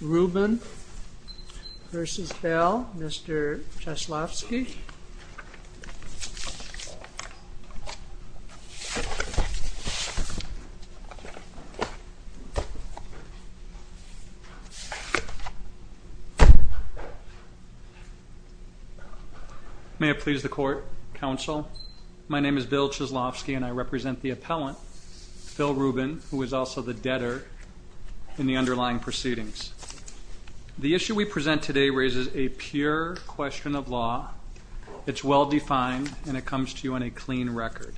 Ruben v. Bell, Mr. Cheslovsky. May it please the Court, Counsel, my name is Bill Cheslovsky and I represent the appellant, Phil Ruben, who is also the The issue we present today raises a pure question of law. It's well-defined and it comes to you on a clean record.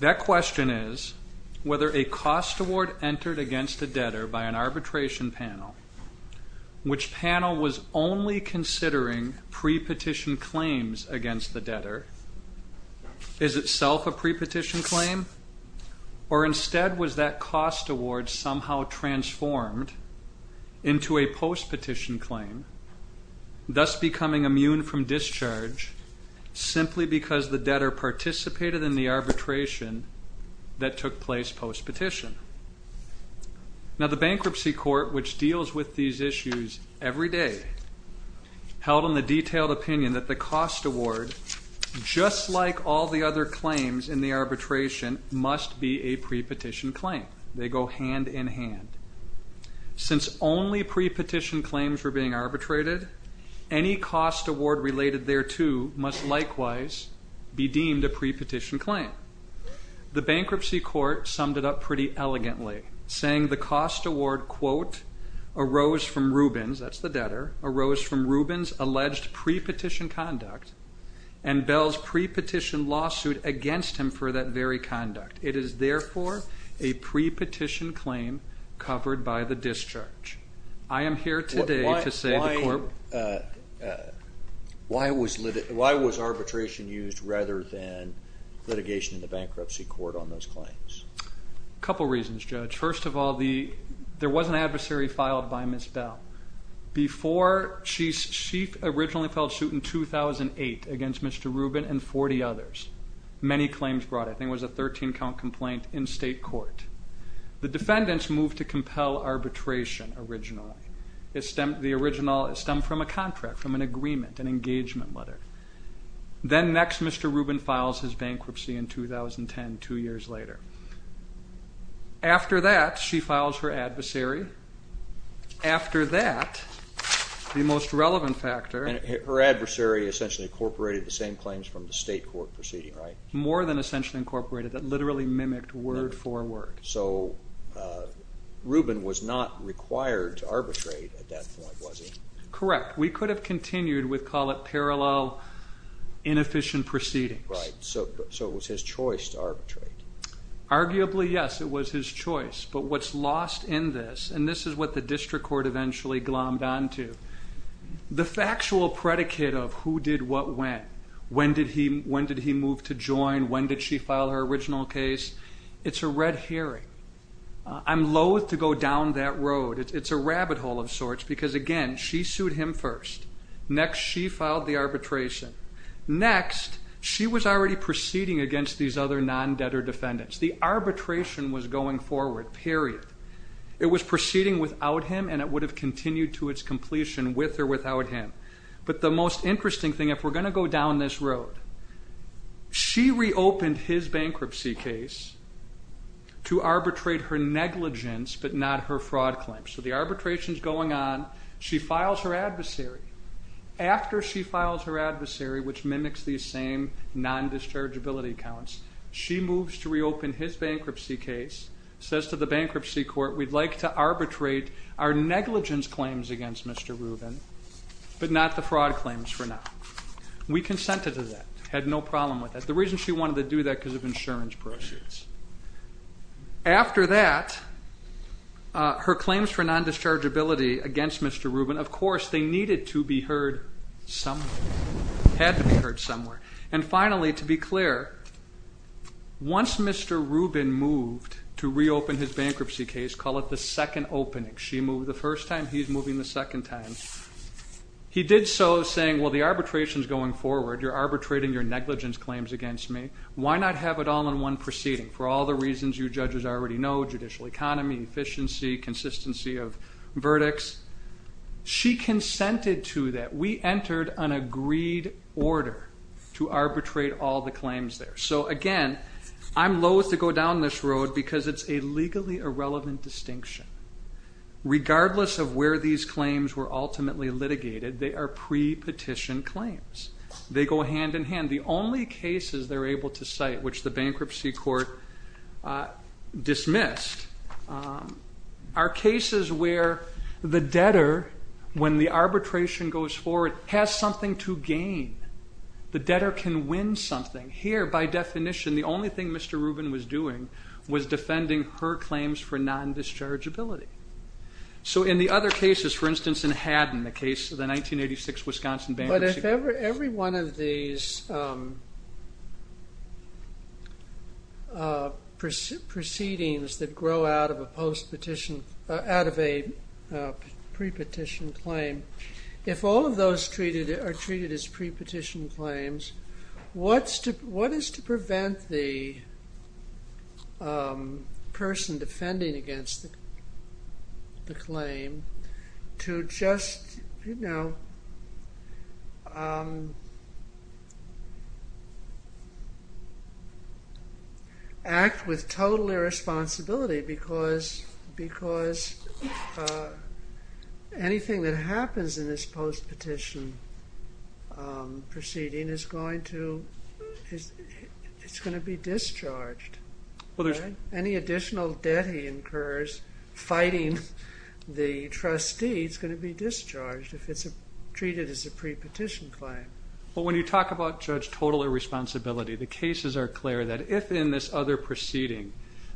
That question is whether a cost award entered against a debtor by an arbitration panel, which panel was only considering pre-petition claims against the debtor, is itself a pre-petition claim or instead was that cost award somehow transformed into a post-petition claim, thus becoming immune from discharge simply because the debtor participated in the arbitration that took place post-petition. Now the Bankruptcy Court, which deals with these issues every day, held on the detailed opinion that the cost award, just like all the other claims in the arbitration, must be a pre-petition claim. They go hand-in-hand. Since only pre-petition claims were being arbitrated, any cost award related thereto must likewise be deemed a pre-petition claim. The Bankruptcy Court summed it up pretty elegantly, saying the cost award, quote, arose from Ruben's, that's the debtor, arose from Ruben's alleged pre-petition conduct and Bell's pre-petition lawsuit against him for that very conduct. It is therefore a pre-petition claim covered by the discharge. I am here today to say the court... Why was arbitration used rather than litigation in the Bankruptcy Court on those claims? A couple reasons, Judge. First of all, there was an adversary filed by Ms. Bell. Before she, she originally filed suit in 2008 against Mr. Ruben and 40 others. Many claims brought, I think it was a 13 count complaint in state court. The defendants moved to compel arbitration originally. It stemmed from a contract, from an agreement, an engagement letter. Then next, Mr. Ruben files his bankruptcy in 2010, two years later. After that, she files her adversary. After that, the most relevant factor... Her adversary essentially incorporated the same claims from the state court proceeding, right? More than essentially incorporated, that literally mimicked word-for-word. So Ruben was not required to arbitrate at that point, was he? Correct. We could have continued with, call it parallel, inefficient proceedings. Right, so it was his choice to arbitrate. Arguably, yes, it was his choice, but what's lost in this, and this is what the district court eventually glommed on to, the factual predicate of who did what when. When did he, when did he move to join? When did she file her original case? It's a red herring. I'm loathe to go down that road. It's a rabbit hole of sorts because again, she sued him first. Next, she filed the arbitration. Next, she was already proceeding against these other non-debtor defendants. The arbitration was going forward, period. It was with or without him. But the most interesting thing, if we're going to go down this road, she reopened his bankruptcy case to arbitrate her negligence, but not her fraud claims. So the arbitration's going on, she files her adversary. After she files her adversary, which mimics these same non-dischargeability accounts, she moves to reopen his bankruptcy case, says to the bankruptcy court, we'd like to arbitrate our negligence claims against Mr. Rubin, but not the fraud claims for now. We consented to that, had no problem with that. The reason she wanted to do that because of insurance proceeds. After that, her claims for non-dischargeability against Mr. Rubin, of course, they needed to be heard somewhere, had to be heard somewhere. And finally, to be clear, once Mr. Rubin moved to reopen his bankruptcy case, call it the second opening. She moved the first time, he's moving the second time. He did so saying, well, the arbitration's going forward, you're arbitrating your negligence claims against me. Why not have it all in one proceeding? For all the reasons you judges already know, judicial economy, efficiency, consistency of verdicts. She consented to that. We entered an agreed order to arbitrate all the claims there. So again, I'm loathe to go down this road because it's a legally irrelevant distinction. Regardless of where these claims were ultimately litigated, they are pre-petition claims. They go hand in hand. The only cases they're able to cite, which the bankruptcy court dismissed, are cases where the debtor, when the arbitration goes forward, has something to gain. The debtor can win something. Here, by definition, the only thing Mr. Rubin did was defending her claims for non-dischargeability. So in the other cases, for instance, in Haddon, the case of the 1986 Wisconsin bankruptcy. But if every one of these proceedings that grow out of a post-petition, out of a pre-petition claim, if all of those are treated as pre-petition claims, what is to prevent the person defending against the claim to just, you know, act with total irresponsibility because anything that happens in this post-petition proceeding is going to be discharged. Any additional debt he incurs fighting the trustee is going to be discharged if it's treated as a pre-petition claim. But when you talk about judge total irresponsibility, the cases are clear that if in this other proceeding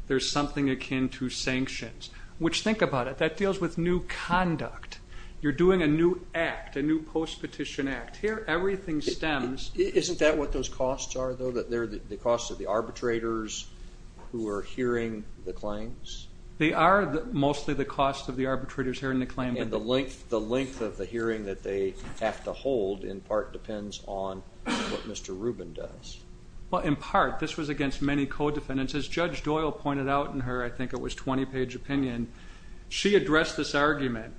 there's something akin to sanctions, which think about it, that deals with new conduct. You're doing a new act, a new post-petition act. Here, everything stems. Isn't that what those costs are, though, that they're the cost of the arbitrators who are hearing the claims? They are mostly the cost of the arbitrators hearing the claim. And the length of the hearing that they have to hold, in part, depends on what Mr. Rubin does. Well, in part, this was against many co-defendants. As Judge Doyle pointed out in her, I think it was 20-page opinion, she addressed this well,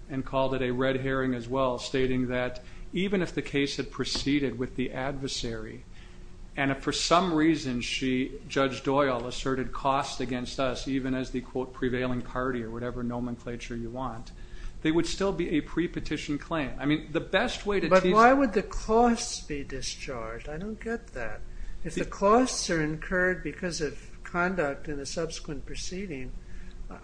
stating that even if the case had proceeded with the adversary, and if for some reason she, Judge Doyle, asserted cost against us, even as the quote prevailing party or whatever nomenclature you want, they would still be a pre-petition claim. I mean, the best way to teach... But why would the costs be discharged? I don't get that. If the costs are incurred because of conduct in a subsequent proceeding,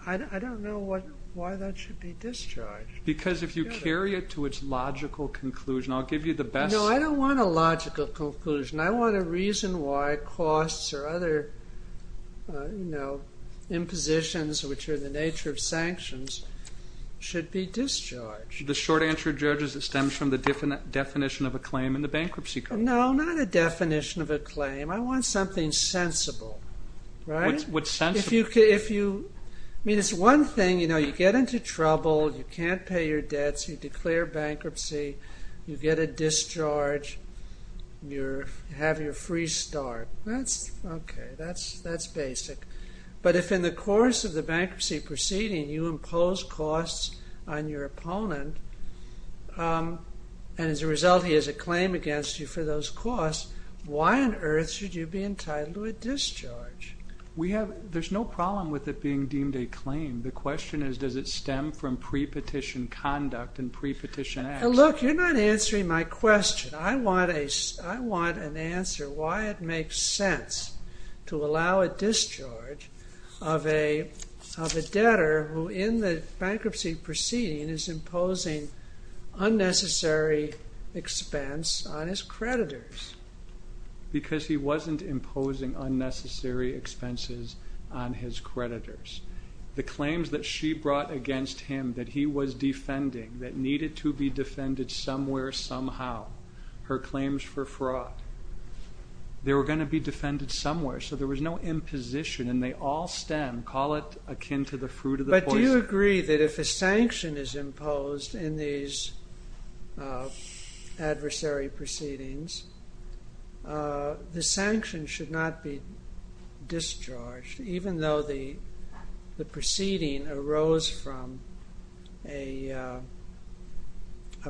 I don't know what, why that should be discharged. Because if you carry it to its logical conclusion, I'll give you the best... No, I don't want a logical conclusion. I want a reason why costs or other, you know, impositions, which are the nature of sanctions, should be discharged. The short answer, Judge, is it stems from the definition of a claim in the Bankruptcy Code. No, not a definition of a claim. I want something sensible, right? What's sensible? If you, I mean, it's one thing, you know, you get into trouble, you can't pay your debts, you declare bankruptcy, you get a discharge, you have your free start. That's, okay, that's basic. But if in the course of the bankruptcy proceeding you impose costs on your opponent, and as a result he has a claim against you for those costs, why on earth should you be entitled to a discharge? We have, there's no problem with it being deemed a claim. The question is, does it stem from pre-petition conduct and pre-petition acts? Look, you're not answering my question. I want a, I want an answer why it makes sense to allow a discharge of a debtor who, in the bankruptcy proceeding, is imposing unnecessary expense on his creditors. Because he wasn't imposing unnecessary expenses on his creditors. The claims that she brought against him, that he was defending, that needed to be defended somewhere, somehow, her claims for fraud, they were going to be defended somewhere. So there was no imposition and they all stem, call it akin to the fruit of the poison. But do you agree that if a sanction is imposed in these adversary proceedings, the sanction should not be discharged, even though the the proceeding arose from a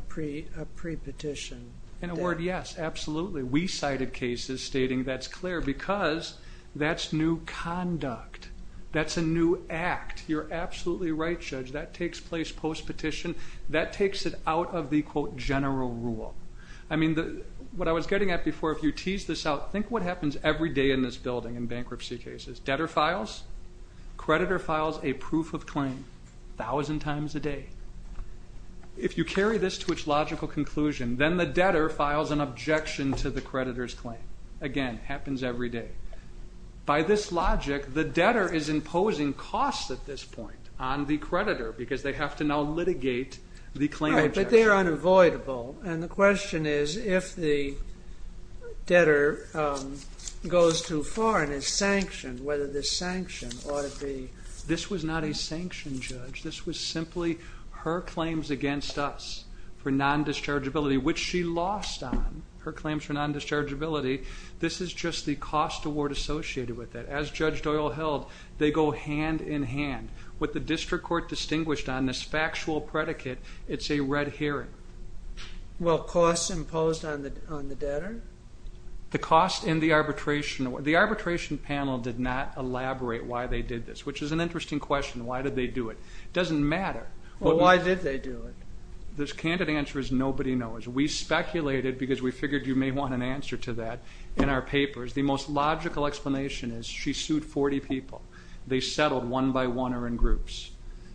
pre-petition? In a word, yes, absolutely. We cited cases stating that's clear because that's new conduct, that's a new act. You're absolutely right, Judge, that takes place post-petition, that takes it out of the quote general rule. I mean the, what I was getting at before, if you tease this out, think what happens every day in this building in bankruptcy cases. Debtor files, creditor files a proof of claim thousand times a day. If you carry this to its logical conclusion, then the debtor files an objection to the creditor's claim. Again, happens every day. By this logic, the debtor is imposing costs at this point on the creditor because they have to now litigate the claim. But they're unavoidable and the debtor goes too far and is sanctioned, whether the sanction ought to be. This was not a sanction, Judge. This was simply her claims against us for non-dischargeability, which she lost on, her claims for non-dischargeability. This is just the cost award associated with it. As Judge Doyle held, they go hand in hand. What the district court distinguished on, this factual predicate, it's a red herring. Well, costs imposed on the debtor? The cost in the arbitration, the arbitration panel did not elaborate why they did this, which is an interesting question. Why did they do it? Doesn't matter. Well, why did they do it? The candid answer is nobody knows. We speculated because we figured you may want an answer to that in our papers. The most logical explanation is she sued 40 people. They settled one by one or in groups.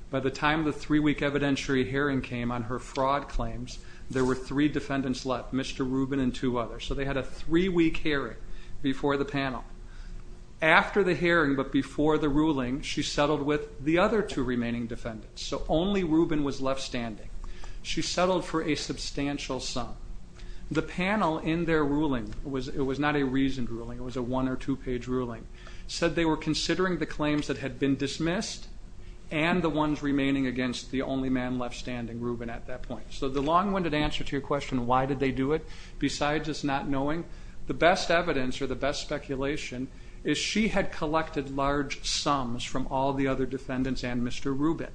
By the time the three-week evidentiary hearing came on her fraud claims, there were three defendants left, Mr. Rubin and two others. So they had a three-week hearing before the panel. After the hearing, but before the ruling, she settled with the other two remaining defendants. So only Rubin was left standing. She settled for a substantial sum. The panel in their ruling, it was not a reasoned ruling, it was a one- or two-page ruling, said they were considering the claims that had been the only man left standing, Rubin, at that point. So the long-winded answer to your question, why did they do it, besides just not knowing, the best evidence or the best speculation is she had collected large sums from all the other defendants and Mr. Rubin,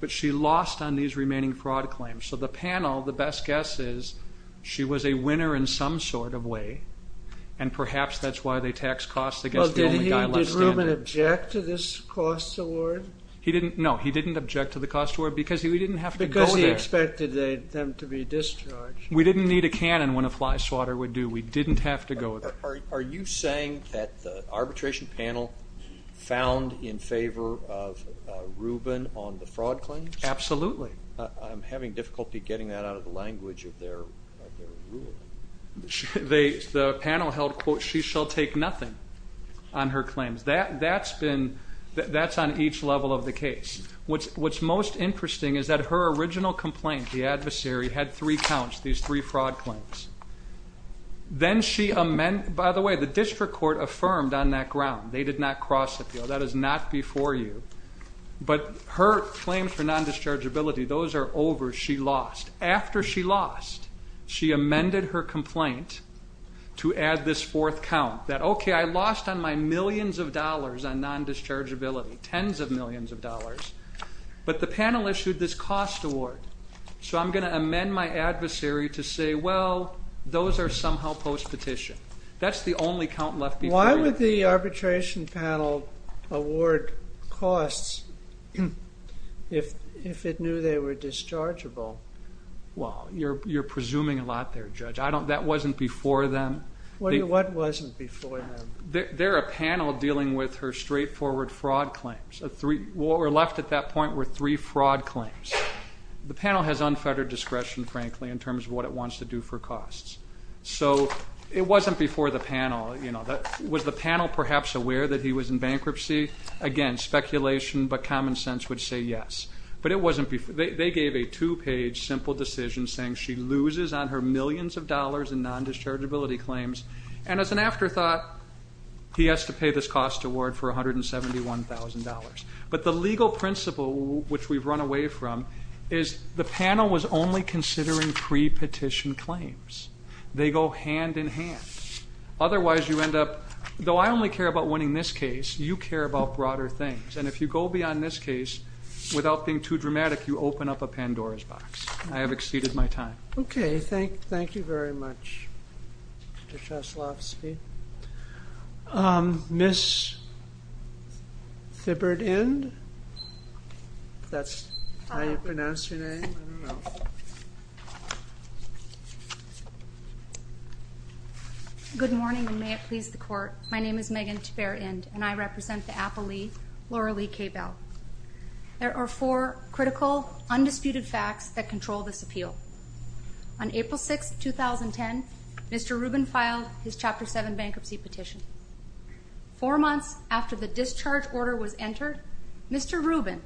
but she lost on these remaining fraud claims. So the panel, the best guess is she was a winner in some sort of way, and perhaps that's why they taxed costs against the only guy left standing. Did Rubin object to this cost award? No, he didn't object to the cost award because we didn't have to go there. Because he expected them to be discharged. We didn't need a cannon when a fly swatter would do. We didn't have to go there. Are you saying that the arbitration panel found in favor of Rubin on the fraud claims? Absolutely. I'm having difficulty getting that out of the language of their ruling. The panel held, quote, she shall take nothing on her claims. That's on each level of the case. What's most interesting is that her original complaint, the adversary, had three counts, these three fraud claims. Then she, by the way, the district court affirmed on that ground, they did not cross appeal, that is not before you, but her claims for non-dischargeability, those are over, she lost. She amended her complaint to add this fourth count that, okay, I lost on my millions of dollars on non-dischargeability, tens of millions of dollars, but the panel issued this cost award. So I'm going to amend my adversary to say, well, those are somehow post-petition. That's the only count left. Why would the arbitration panel award costs if it knew they were non-dischargeable? Well, you're presuming a lot there, Judge. I don't, that wasn't before them. What wasn't before them? They're a panel dealing with her straightforward fraud claims. What were left at that point were three fraud claims. The panel has unfettered discretion, frankly, in terms of what it wants to do for costs. So it wasn't before the panel, you know, that was the panel perhaps aware that he was in bankruptcy? Again, speculation but common a two-page simple decision saying she loses on her millions of dollars in non-dischargeability claims, and as an afterthought, he has to pay this cost award for $171,000. But the legal principle, which we've run away from, is the panel was only considering pre-petition claims. They go hand in hand. Otherwise, you end up, though I only care about winning this case, you care about broader things, and if you go beyond this case, without being too dramatic, you open up a Pandora's box. I have exceeded my time. Okay, thank you very much, Mr. Sheslovski. Ms. Thibbert-Ind? That's how you pronounce your name? Good morning, and may it please the court. My name is Megan Thibbert-Ind, and I represent the Apple Company, Laura Lee K. Bell. There are four critical, undisputed facts that control this appeal. On April 6, 2010, Mr. Rubin filed his Chapter 7 bankruptcy petition. Four months after the discharge order was entered, Mr. Rubin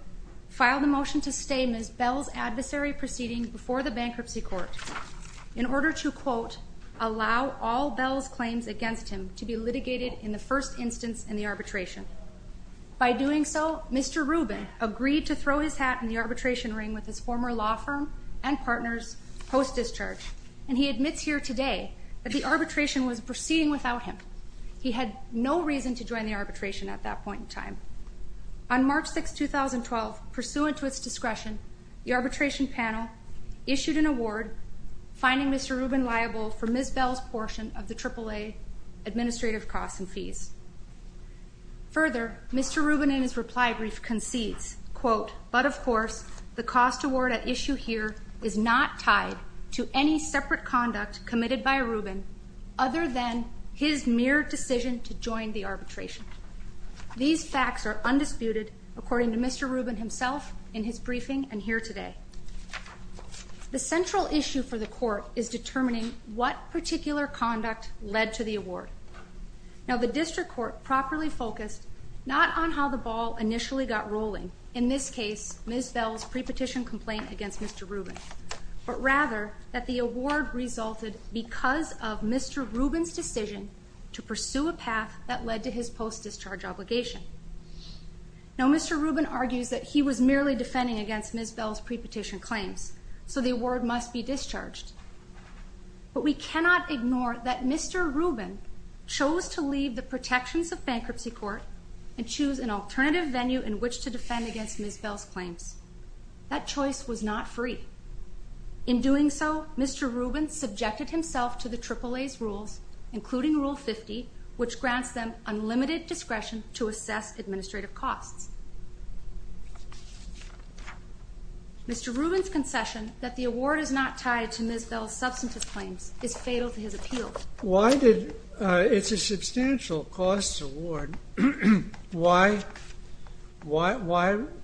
filed a motion to stay Ms. Bell's adversary proceeding before the bankruptcy court in order to, quote, allow all Bell's claims against him to be litigated in the first instance in the arbitration. By doing so, Mr. Rubin agreed to throw his hat in the arbitration ring with his former law firm and partners post discharge, and he admits here today that the arbitration was proceeding without him. He had no reason to join the arbitration at that point in time. On March 6, 2012, pursuant to its discretion, the arbitration panel issued an award finding Mr. Rubin liable for Ms. Bell's portion of the AAA administrative costs and fees. Further, Mr. Rubin, in his reply brief, concedes, quote, but of course the cost award at issue here is not tied to any separate conduct committed by Rubin other than his mere decision to join the arbitration. These facts are undisputed according to Mr. Rubin himself in his briefing and here today. The central issue for the court is determining what particular conduct led to the award. Now the district court properly focused not on how the ball initially got rolling, in this case Ms. Bell's pre-petition complaint against Mr. Rubin, but rather that the award resulted because of Mr. Rubin's decision to pursue a path that led to his post discharge obligation. Now Mr. Rubin argues that he was merely defending against Ms. Bell's pre-petition claims, so the award must be discharged. But we cannot ignore that Mr. Rubin chose to leave the protections of bankruptcy court and choose an alternative venue in which to defend against Ms. Bell's claims. That choice was not free. In doing so, Mr. Rubin subjected himself to the AAA's rules, including Rule 50, which grants them unlimited discretion to assess administrative costs. Mr. Rubin's Ms. Bell's substantive claims is fatal to his appeal. Why did, it's a substantial costs award, why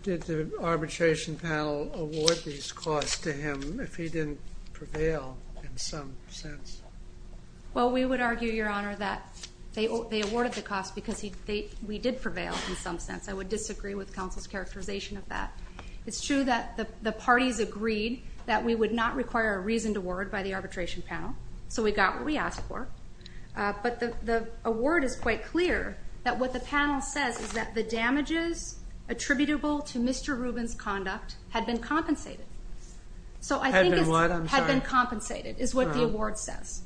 did the arbitration panel award these costs to him if he didn't prevail in some sense? Well we would argue, Your Honor, that they awarded the costs because we did prevail in some sense. I would disagree with counsel's characterization of that. It's true that the parties agreed that we would not require a reasoned award by the arbitration panel, so we got what we asked for, but the award is quite clear that what the panel says is that the damages attributable to Mr. Rubin's conduct had been compensated. So I think it had been compensated, is what the award says.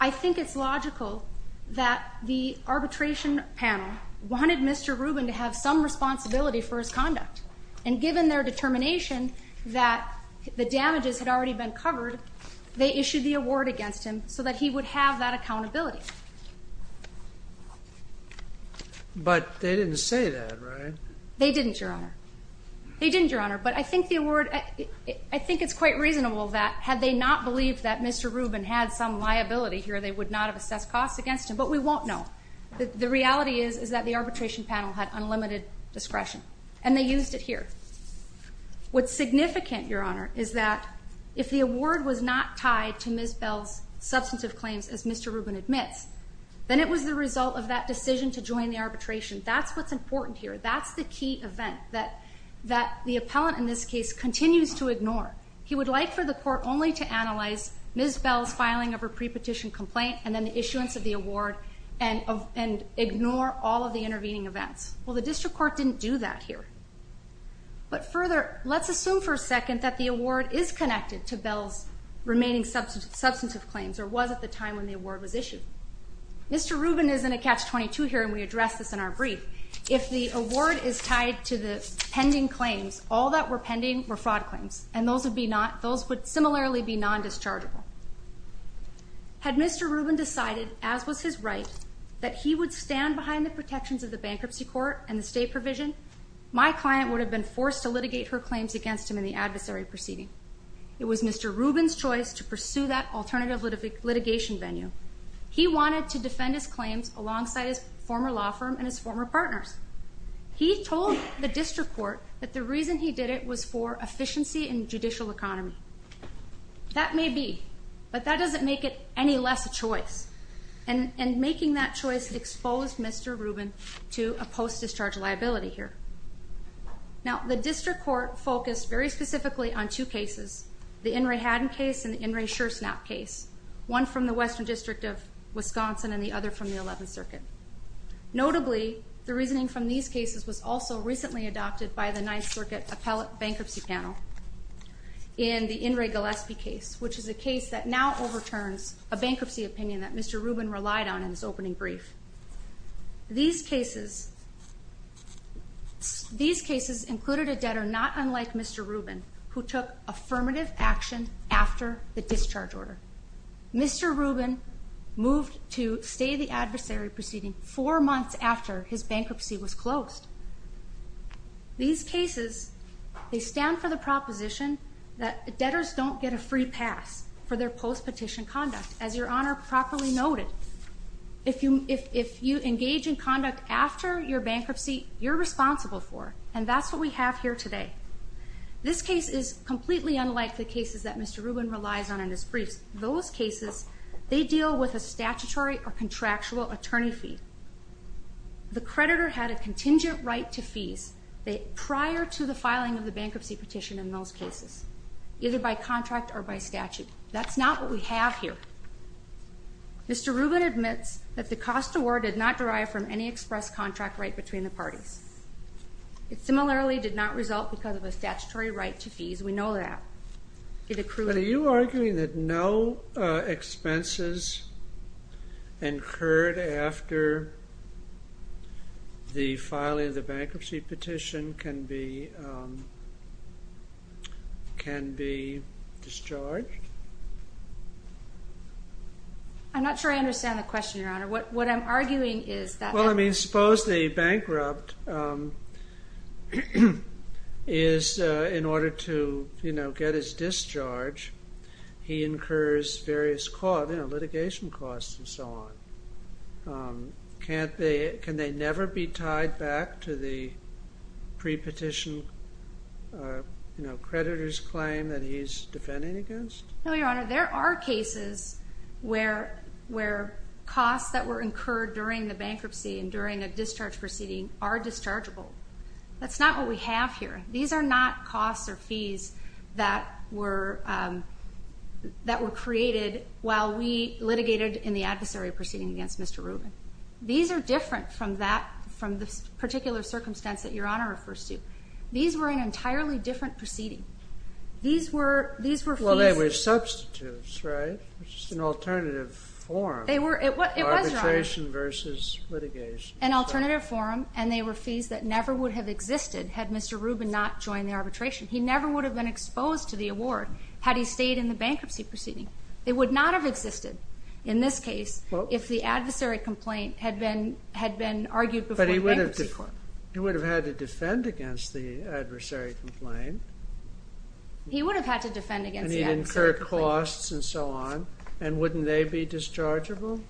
I think it's logical that the arbitration panel wanted Mr. Rubin to have some responsibility for his conduct and given their determination that the damages had already been covered, they issued the award against him so that he would have that accountability. But they didn't say that, right? They didn't, Your Honor. They didn't, Your Honor, but I think the award, I think it's quite reasonable that had they not believed that Mr. Rubin had some liability here, they would not have assessed costs against him, but we won't know. The reality is, is that the arbitration panel had unlimited discretion, and they used it here. What's significant, Your Honor, is that if the award was not tied to Ms. Bell's substantive claims, as Mr. Rubin admits, then it was the result of that decision to join the arbitration. That's what's important here. That's the key event that the appellant in this case continues to ignore. He would like for the court only to analyze Ms. Bell's filing of her pre-petition complaint and then the issuance of the award and ignore all of the intervening events. Well, the district court didn't do that here. But further, let's assume for a second that the award is connected to Bell's remaining substantive claims, or was at the time when the award was issued. Mr. Rubin is in a catch-22 here, and we address this in our brief. If the award is tied to the pending claims, all that were pending were fraud claims, and those would be not, those would similarly be non-dischargeable. Had Mr. Rubin decided, as was his right, that he would stand behind the protections of the bankruptcy court and the state provision, my client would have been forced to litigate her claims against him in the adversary proceeding. It was Mr. Rubin's choice to pursue that alternative litigation venue. He wanted to defend his claims alongside his former law firm and his former partners. He told the district court that the reason he did it was for efficiency in judicial economy. That may be, but that doesn't make it any less a choice. And making that choice exposed Mr. Rubin to a post-discharge liability here. Now, the district court focused very specifically on two cases, the In re Haddon case and the In re Scherznap case, one from the Western District of Wisconsin and the other from the 11th Circuit. Notably, the reasoning from these cases was also recently adopted by the 9th Circuit Appellate Bankruptcy Panel in the In re Gillespie case, which is a case that now overturns a bankruptcy opinion that Mr. Rubin relied on in his opening brief. These cases, these cases included a debtor not unlike Mr. Rubin, who took affirmative action after the discharge order. Mr. Rubin moved to stay the They stand for the proposition that debtors don't get a free pass for their post petition conduct. As your honor properly noted, if you if you engage in conduct after your bankruptcy, you're responsible for and that's what we have here today. This case is completely unlike the cases that Mr Rubin relies on in his briefs. Those cases they deal with a statutory or contractual attorney fee. The creditor had a contingent right to fees prior to the filing of the bankruptcy petition in those cases, either by contract or by statute. That's not what we have here. Mr Rubin admits that the cost award did not derive from any express contract right between the parties. It similarly did not result because of a statutory right to fees. We know that it accrued. Are you arguing that no expenses incurred after the filing of the bankruptcy petition can be can be discharged? I'm not sure I understand the question, your honor. What what I'm arguing is that. Well, I mean, suppose the bankrupt is in order to, you know, get his discharge. He incurs various costs, litigation costs and so on. Um, can't they? Can they never be tied back to the pre petition? Uh, you know, creditors claim that he's defending against? No, your honor. There are cases where where costs that were incurred during the bankruptcy and during a discharge proceeding are dischargeable. That's not what we have here. These are not costs or fees that were, um, that were created while we litigated in the adversary proceeding against Mr Rubin. These are different from that, from this particular circumstance that your honor refers to. These were an entirely different proceeding. These were these were well, they were substitutes, right? It's just an alternative form. They were arbitration versus litigation, an alternative forum, and they were fees that never would have existed had Mr Rubin not joined the arbitration. He never would have been exposed to the award had he stayed in the bankruptcy proceeding. It would not have existed in this case if the adversary complaint had been had been argued before. But he would have, he would have had to defend against the adversary complaint. He would have had to defend against incurred costs and so on. And wouldn't they be dischargeable?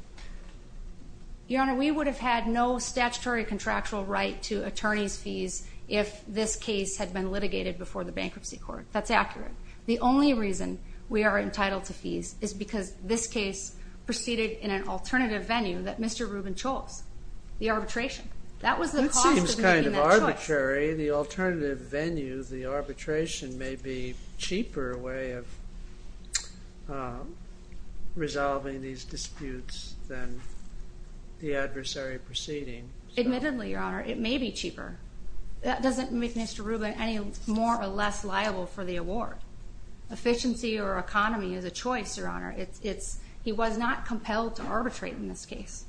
Your honor, we would have had no statutory contractual right to attorney's fees if this case had been litigated before the bankruptcy court. That's accurate. The only reason we are entitled to fees is because this case proceeded in an alternative venue that Mr. Rubin chose, the arbitration. That was the cost of making that choice. That seems kind of arbitrary. The alternative venue, the arbitration, may be cheaper way of resolving these disputes than the adversary proceeding. Admittedly, your honor, it may be cheaper. That doesn't make Mr. Rubin any more or less liable for the award. Efficiency or economy is a choice, your honor. It's, it's, he was not compelled to arbitrate in this case.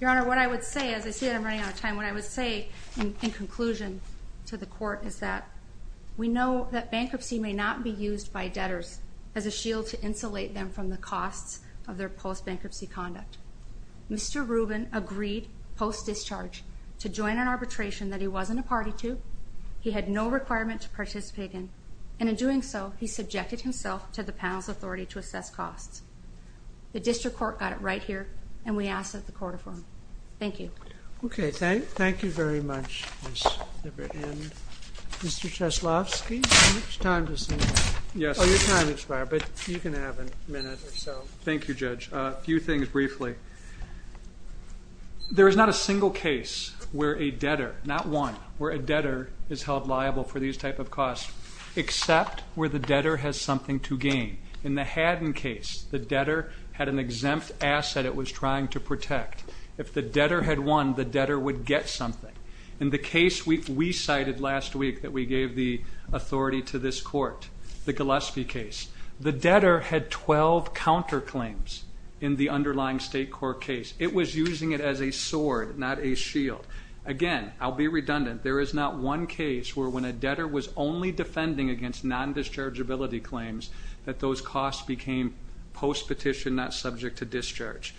Your honor, what I would say, as I see that I'm running out of time, what I would say in conclusion to the court is that we know that bankruptcy may not be used by debtors as a shield to insulate them from the costs of their post-bankruptcy conduct. Mr. Rubin agreed, post-discharge, to join an arbitration that he wasn't a party to, he had no requirement to participate in, and in doing so, he subjected himself to the panel's authority to assess costs. The district court got it right here, and we ask that the court affirm. Thank you. Okay, thank, you very much. Mr. Cheslovsky, your time has expired, but you can have a minute or so. Thank you, judge. A few things briefly. There is not a single case where a debtor, not one, where a debtor is held liable for these type of costs, except where the debtor has something to gain. In the Haddon case, the debtor had an exempt asset it was trying to protect. If the debtor had won, the debtor would get something. In the case we cited last week, that we gave the authority to this court, the Gillespie case, the debtor had 12 counterclaims in the underlying state court case. It was using it as a sword, not a shield. Again, I'll be redundant, there is not one case where when a debtor was only defending against non-dischargeability claims, that those costs became post-petition, not subject to discharge.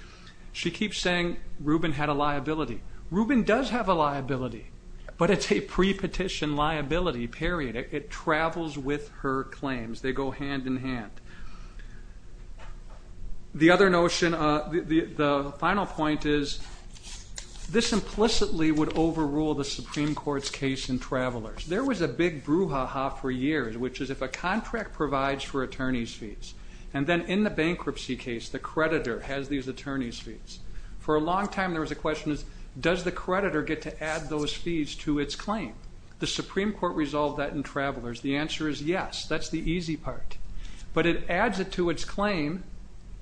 She keeps saying Rubin had a liability. Rubin does have a liability, but it's a pre-petition liability, period. It travels with her claims, they go hand-in-hand. The other notion, the final point is, this implicitly would overrule the Supreme Court's case in Travelers. There was a big brouhaha for years, which is if a contract provides for attorneys fees, and then in the bankruptcy case, the creditor has these attorneys fees. For a debtor, the question is, does the creditor get to add those fees to its claim? The Supreme Court resolved that in Travelers. The answer is yes, that's the easy part. But it adds it to its claim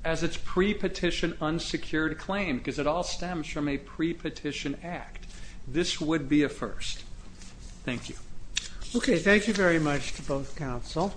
as its pre-petition unsecured claim, because it all stems from a pre-petition act. This would be a first. Thank you. Okay, thank you very much to both counsel.